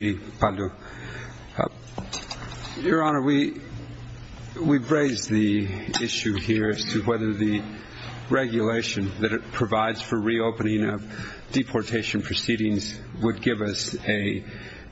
Your Honor, we've raised the issue here as to whether the regulation that it provides for reopening of deportation proceedings would give us a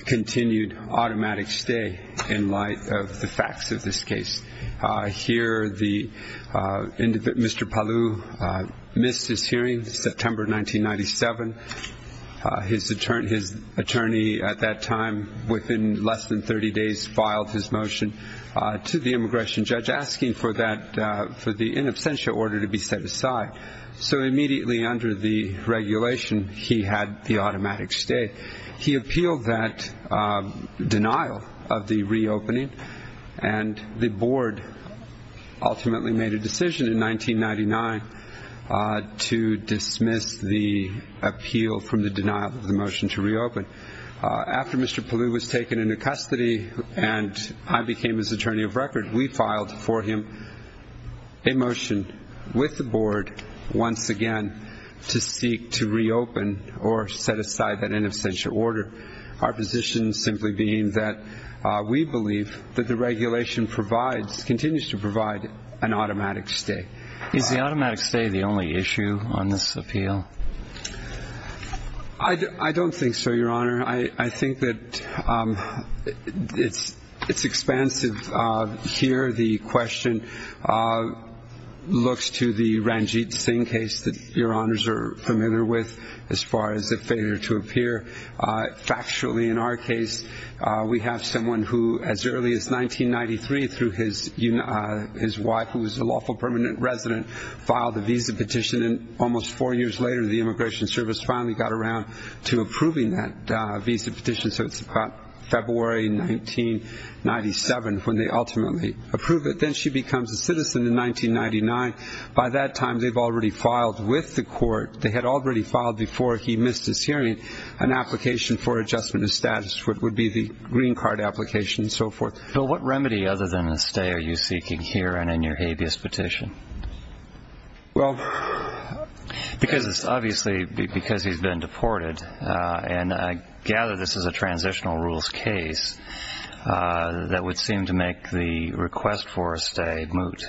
continued automatic stay in light of the facts of this case. Here, Mr. Palou missed his hearing in September 1997. His attorney at that time, within less than 30 days, filed his motion to the immigration judge asking for the in absentia order to be set aside. So immediately under the regulation, he had the automatic stay. He appealed that denial of the reopening and the board ultimately made a decision in 1999 to dismiss the appeal from the denial of the motion to reopen. After Mr. Palou was taken into custody and I became his attorney of record, we filed for him a motion with the board once again to seek to reopen or set aside that in absentia order. Our position simply being that we believe that the regulation provides, continues to provide an automatic stay. Is the automatic stay the only issue on this appeal? I don't think so, Your Honor. I think that it's expansive here. The question looks to the Ranjit Singh case that Your Honors are familiar with as far as the failure to appear. Factually, in our case, we have someone who, as early as 1993, through his wife, who was a lawful permanent resident, filed a visa petition and almost four years later the Immigration Service finally got around to approving that visa petition. So it's about February 1997 when they ultimately approve it. Then she becomes a citizen in 1999. By that time, they've already filed with the court, they had already filed before he missed his hearing, an application for adjustment of status, what would be the green card application and so forth. So what remedy other than a stay are you seeking here and in your habeas petition? Well, because it's obviously because he's been deported, and I gather this is a transitional rules case, that would seem to make the request for a stay moot.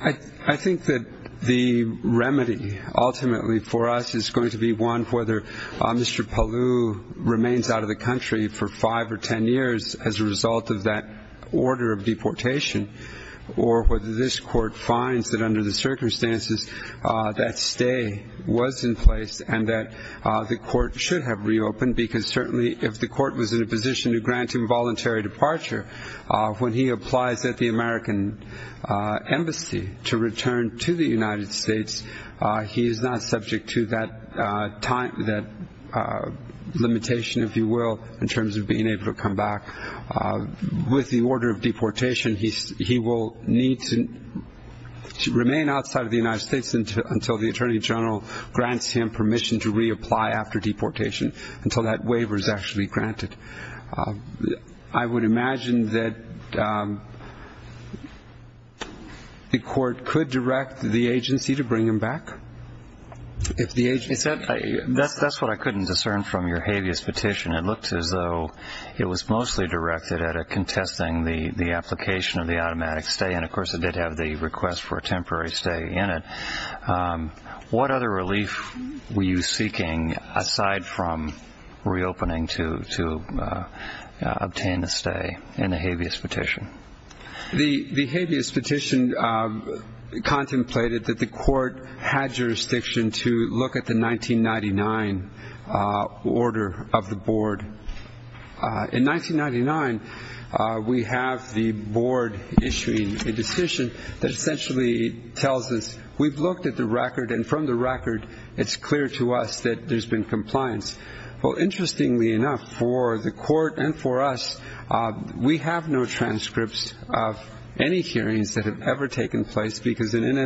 I think that the remedy ultimately for us is going to be one for whether Mr. Paloo remains out of the country for five or ten years as a result of that order of deportation, or whether this court finds that under the circumstances that stay was in place and that the court should have reopened, because certainly if the court was in a position to grant him voluntary departure, when he applies at the American embassy to return to the United States, he is not subject to that limitation, if you will, in terms of being able to come back. With the order of deportation, he will need to remain outside of the United States until the Attorney General grants him permission to reapply after deportation, until that waiver is actually granted. I would imagine that the court could direct the agency to bring him back? That's what I couldn't discern from your habeas petition. It looked as though it was mostly directed at contesting the application of the automatic stay, and of course it did have the request for a temporary stay in it. What other relief were you seeking aside from reopening to obtain a stay in the habeas petition? The habeas petition contemplated that the court had jurisdiction to look at the 1999 order of the board. In 1999, we have the board issuing a decision that essentially tells us we've looked at the record, and from the record, it's clear to us that there's been compliance. Well, interestingly enough, for the court and for us, we have no transcripts of any hearings that have ever taken place, because an in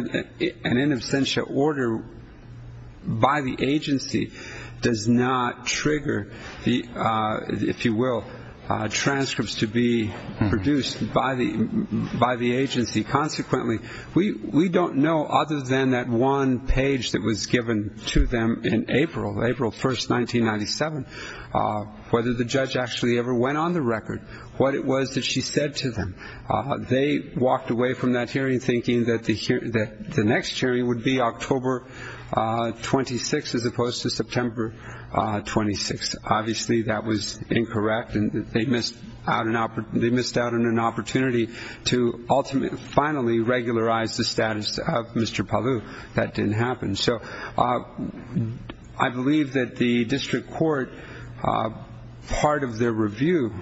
absentia order by the agency does not trigger, if you will, transcripts to be produced by the agency. Consequently, we don't know other than that one page that was given to them in April, April 1, 1997, whether the judge actually ever went on the record, what it was that she said to them. They walked away from that hearing thinking that the next hearing would be October 26 as opposed to September 26. Obviously, that was incorrect, and they missed out on an opportunity to ultimately, finally regularize the status of Mr. Palu. That didn't happen. So I believe that the district court, part of their review,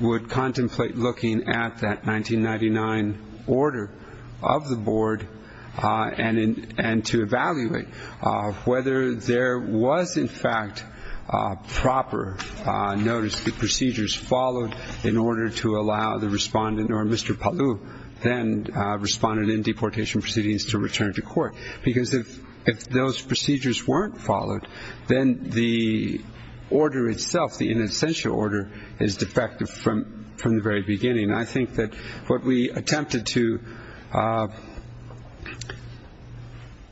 would contemplate looking at that 1999 order of the board and to evaluate whether there was, in fact, proper notice that procedures followed in order to allow the respondent, or Mr. Palu, then responded in deportation proceedings to return to court. Because if those procedures weren't followed, then the order itself, the in absentia order, is defective from the very beginning. I think that what we attempted to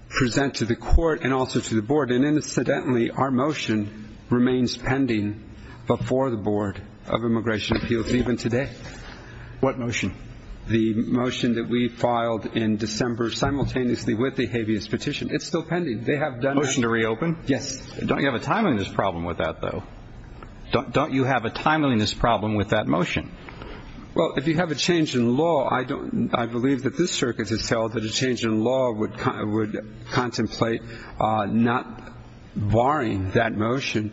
present to the court and also to the board, and incidentally, our motion remains pending before the Board of Immigration Appeals even today. What motion? The motion that we filed in December simultaneously with the habeas petition. It's still pending. They have done that. Motion to reopen? Yes. Don't you have a time on this problem with that, though? Don't you have a timeliness problem with that motion? Well, if you have a change in law, I believe that this circuit has held that a change in law would contemplate not barring that motion,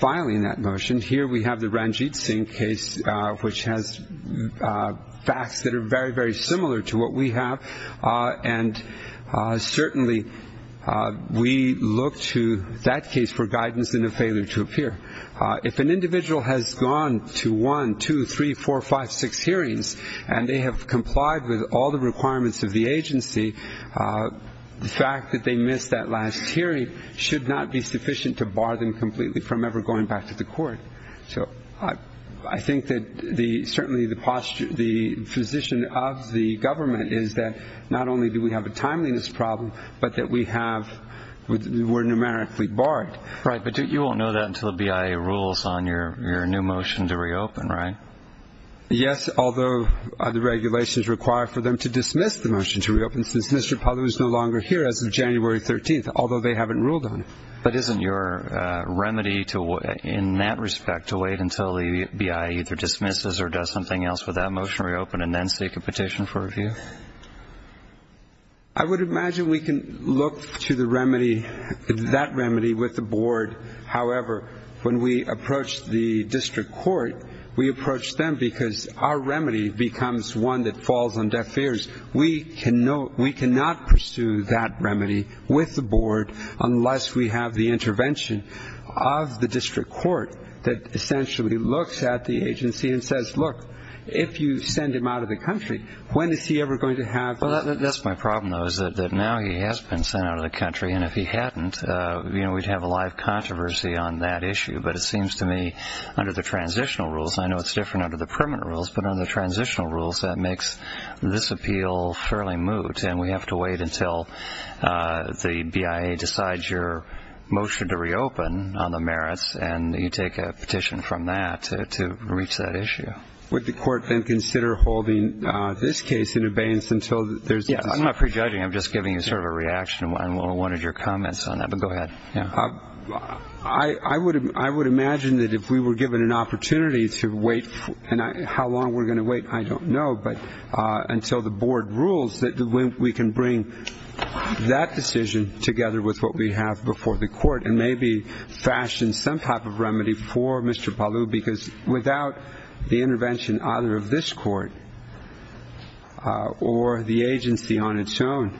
filing that motion. Here we have the Ranjit Singh case, which has facts that are very, very similar to what we have. And certainly we look to that case for guidance in a failure to appear. If an individual has gone to one, two, three, four, five, six hearings, and they have complied with all the requirements of the agency, the fact that they missed that last hearing should not be sufficient to bar them completely from ever going back to the court. So I think that certainly the position of the government is that not only do we have a timeliness problem, but that we're numerically barred. Right, but you won't know that until the BIA rules on your new motion to reopen, right? Yes, although the regulations require for them to dismiss the motion to reopen since Mr. Palu is no longer here as of January 13th, although they haven't ruled on it. But isn't your remedy in that respect to wait until the BIA either dismisses or does something else with that motion to reopen and then seek a petition for review? I would imagine we can look to that remedy with the board. However, when we approach the district court, we approach them because our remedy becomes one that falls on deaf ears. We cannot pursue that remedy with the board unless we have the intervention of the district court that essentially looks at the agency and says, look, if you send him out of the country, when is he ever going to have the---- Well, that's my problem, though, is that now he has been sent out of the country, and if he hadn't, you know, we'd have a live controversy on that issue. But it seems to me under the transitional rules, I know it's different under the permanent rules, but under the transitional rules that makes this appeal fairly moot, and we have to wait until the BIA decides your motion to reopen on the merits and you take a petition from that to reach that issue. Would the court then consider holding this case in abeyance until there's---- Yes, I'm not prejudging. I'm just giving you sort of a reaction on one of your comments on that, but go ahead. I would imagine that if we were given an opportunity to wait, and how long we're going to wait, I don't know, but until the board rules that we can bring that decision together with what we have before the court and maybe fashion some type of remedy for Mr. Palu, because without the intervention either of this court or the agency on its own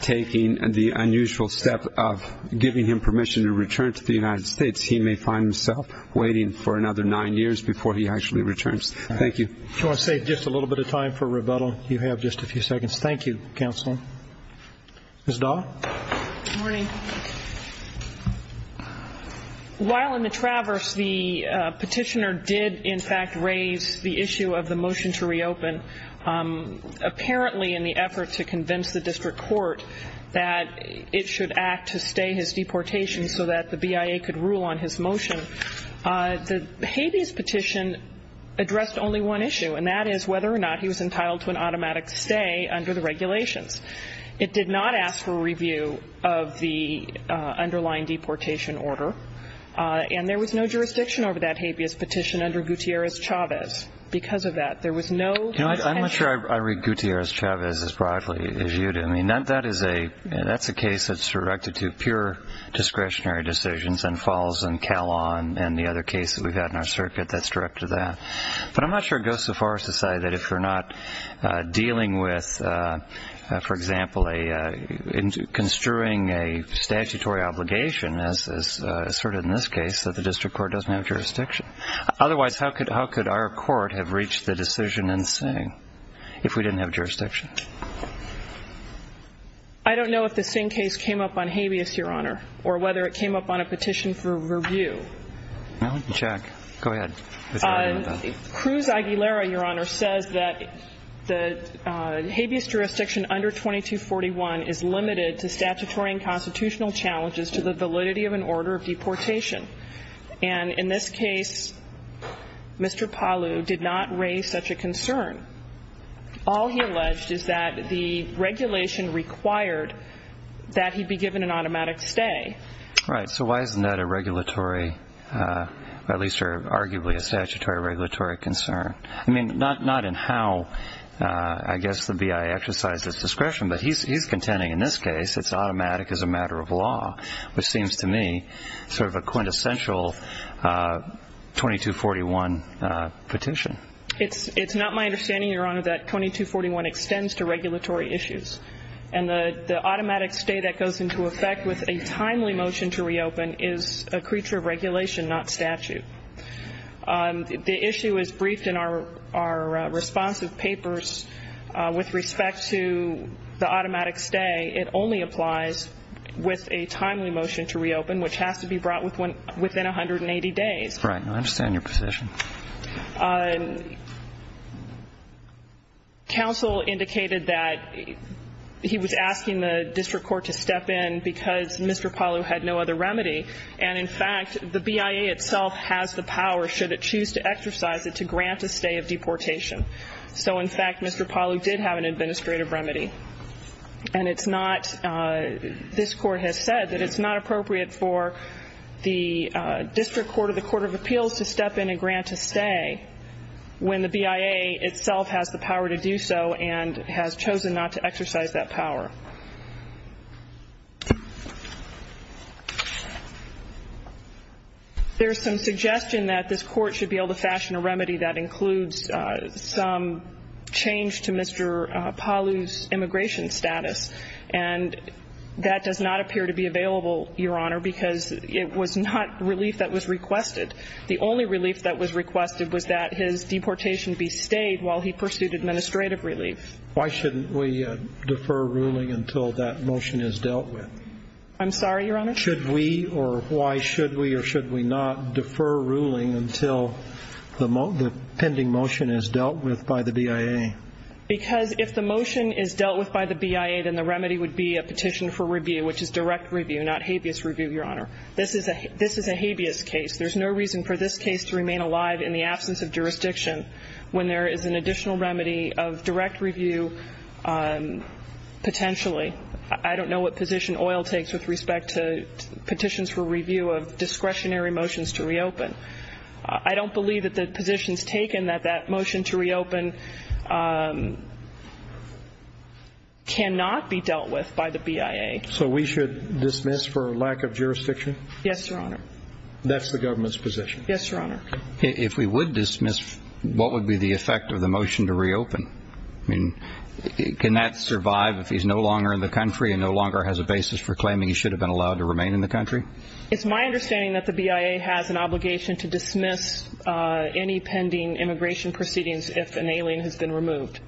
taking the unusual step of giving him permission to return to the United States, he may find himself waiting for another nine years before he actually returns. Thank you. I want to save just a little bit of time for rebuttal. You have just a few seconds. Thank you, counsel. Ms. Dahl. Good morning. While in the traverse, the petitioner did in fact raise the issue of the motion to reopen. Apparently in the effort to convince the district court that it should act to stay his deportation so that the BIA could rule on his motion, the habeas petition addressed only one issue, and that is whether or not he was entitled to an automatic stay under the regulations. It did not ask for a review of the underlying deportation order, and there was no jurisdiction over that habeas petition under Gutierrez-Chavez because of that. I'm not sure I read Gutierrez-Chavez as broadly as you do. I mean, that's a case that's directed to pure discretionary decisions and falls in Callon and the other case that we've had in our circuit that's directed to that. But I'm not sure it goes so far as to say that if you're not dealing with, for example, construing a statutory obligation, as asserted in this case, that the district court doesn't have jurisdiction. Otherwise, how could our court have reached the decision in Singh if we didn't have jurisdiction? I don't know if the Singh case came up on habeas, Your Honor, or whether it came up on a petition for review. Jack, go ahead. Cruz-Aguilera, Your Honor, says that the habeas jurisdiction under 2241 is limited to statutory and constitutional challenges to the validity of an order of deportation. And in this case, Mr. Palu did not raise such a concern. All he alleged is that the regulation required that he be given an automatic stay. Right. So why isn't that a regulatory, or at least arguably a statutory regulatory concern? I mean, not in how, I guess, the BIA exercised its discretion, but he's contending in this case it's automatic as a matter of law, which seems to me sort of a quintessential 2241 petition. It's not my understanding, Your Honor, that 2241 extends to regulatory issues. And the automatic stay that goes into effect with a timely motion to reopen is a creature of regulation, not statute. The issue is briefed in our responsive papers. With respect to the automatic stay, it only applies with a timely motion to reopen, which has to be brought within 180 days. Right. I understand your position. Counsel indicated that he was asking the district court to step in because Mr. Palu had no other remedy. And, in fact, the BIA itself has the power, should it choose to exercise it, to grant a stay of deportation. So, in fact, Mr. Palu did have an administrative remedy. And it's not, this Court has said that it's not appropriate for the district court or the court of appeals to step in and grant a stay when the BIA itself has the power to do so and has chosen not to exercise that power. There's some suggestion that this Court should be able to fashion a remedy that includes some change to Mr. Palu's immigration status. And that does not appear to be available, Your Honor, because it was not relief that was requested. The only relief that was requested was that his deportation be stayed while he pursued administrative relief. Why shouldn't we defer ruling until that motion is dealt with? I'm sorry, Your Honor? Should we or why should we or should we not defer ruling until the pending motion is dealt with by the BIA? Because if the motion is dealt with by the BIA, then the remedy would be a petition for review, which is direct review, not habeas review, Your Honor. This is a habeas case. There's no reason for this case to remain alive in the absence of jurisdiction when there is an additional remedy of direct review potentially. I don't know what position oil takes with respect to petitions for review of discretionary motions to reopen. I don't believe that the position is taken that that motion to reopen cannot be dealt with by the BIA. So we should dismiss for lack of jurisdiction? Yes, Your Honor. That's the government's position? Yes, Your Honor. If we would dismiss, what would be the effect of the motion to reopen? I mean, can that survive if he's no longer in the country and no longer has a basis for claiming he should have been allowed to remain in the country? It's my understanding that the BIA has an obligation to dismiss any pending immigration proceedings if an alien has been removed.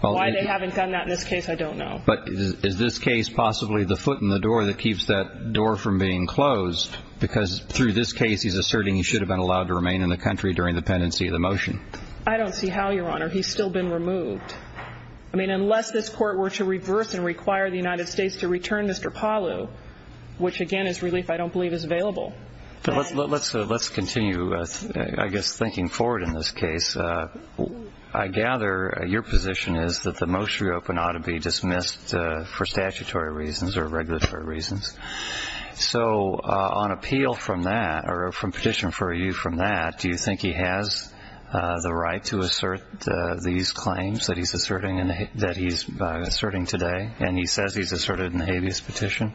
Why they haven't done that in this case, I don't know. But is this case possibly the foot in the door that keeps that door from being closed? Because through this case, he's asserting he should have been allowed to remain in the country during the pendency of the motion. I don't see how, Your Honor. He's still been removed. I mean, unless this Court were to reverse and require the United States to return Mr. Palu, which, again, is relief I don't believe is available. Let's continue, I guess, thinking forward in this case. I gather your position is that the motion to reopen ought to be dismissed for statutory reasons or regulatory reasons. So on appeal from that or from petition for review from that, do you think he has the right to assert these claims that he's asserting today? And he says he's asserted in the habeas petition.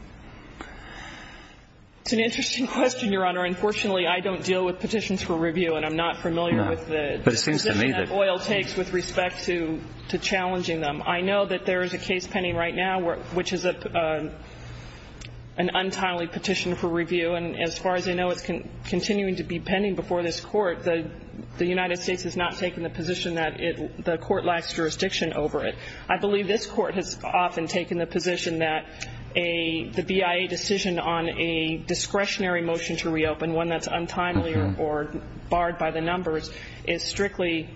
It's an interesting question, Your Honor. Unfortunately, I don't deal with petitions for review, and I'm not familiar with the position that Boyle takes with respect to challenging them. I know that there is a case pending right now which is an untimely petition for review. And as far as I know, it's continuing to be pending before this Court. The United States has not taken the position that the Court lacks jurisdiction over it. I believe this Court has often taken the position that the BIA decision on a discretionary motion to reopen, one that's untimely or barred by the numbers, is strictly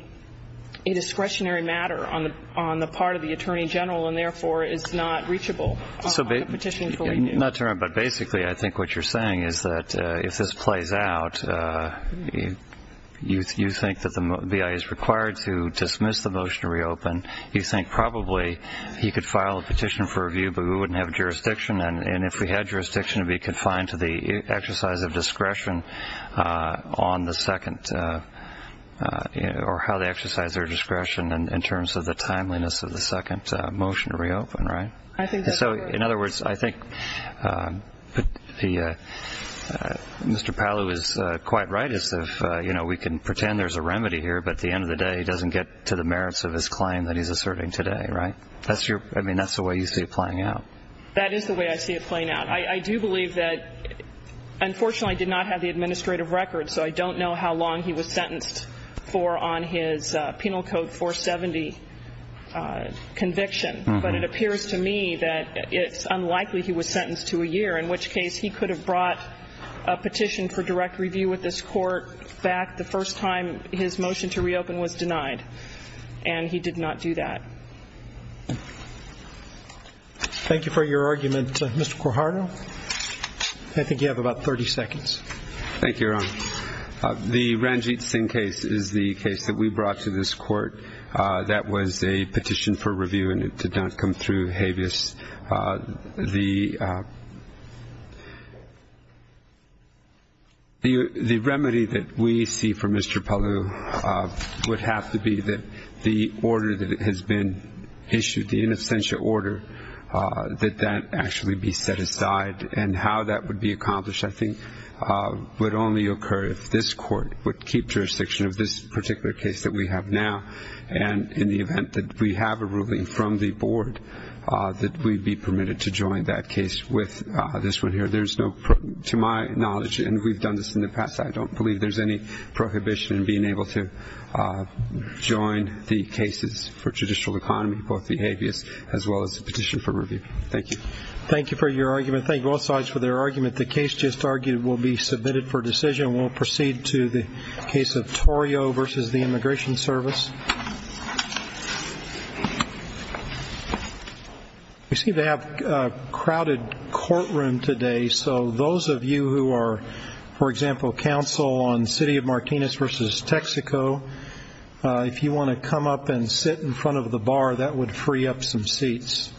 a discretionary matter on the part of the Attorney General and, therefore, is not reachable on a petition for review. Not to interrupt, but basically I think what you're saying is that if this plays out, you think that the BIA is required to dismiss the motion to reopen. You think probably he could file a petition for review, but we wouldn't have jurisdiction. And if we had jurisdiction, it would be confined to the exercise of discretion on the second or how they exercise their discretion in terms of the timeliness of the second motion to reopen, right? I think that's correct. I think Mr. Powell is quite right as to if we can pretend there's a remedy here, but at the end of the day it doesn't get to the merits of his claim that he's asserting today, right? I mean, that's the way you see it playing out. That is the way I see it playing out. I do believe that unfortunately I did not have the administrative record, so I don't know how long he was sentenced for on his Penal Code 470 conviction. But it appears to me that it's unlikely he was sentenced to a year, in which case he could have brought a petition for direct review with this court back the first time his motion to reopen was denied. And he did not do that. Thank you for your argument, Mr. Quijano. I think you have about 30 seconds. Thank you, Your Honor. The Ranjit Singh case is the case that we brought to this court that was a petition for review and it did not come through habeas. The remedy that we see for Mr. Palu would have to be that the order that has been issued, the in absentia order, that that actually be set aside. And how that would be accomplished, I think, would only occur if this court would keep jurisdiction of this particular case that we have now. And in the event that we have a ruling from the board that we'd be permitted to join that case with this one here. There's no, to my knowledge, and we've done this in the past, I don't believe there's any prohibition in being able to join the cases for judicial economy, both the habeas as well as the petition for review. Thank you. Thank you for your argument. Thank you, both sides, for their argument. The case just argued will be submitted for decision. We'll proceed to the case of Torrio versus the Immigration Service. We seem to have a crowded courtroom today, so those of you who are, for example, counsel on the city of Martinez versus Texaco, if you want to come up and sit in front of the bar, that would free up some seats.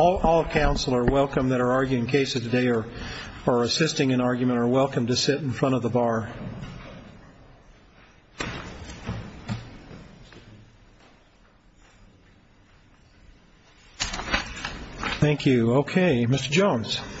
All counsel are welcome that are arguing cases today or assisting in argument are welcome to sit in front of the bar. Thank you. Thank you. Thank you. Thank you. Thank you. Thank you.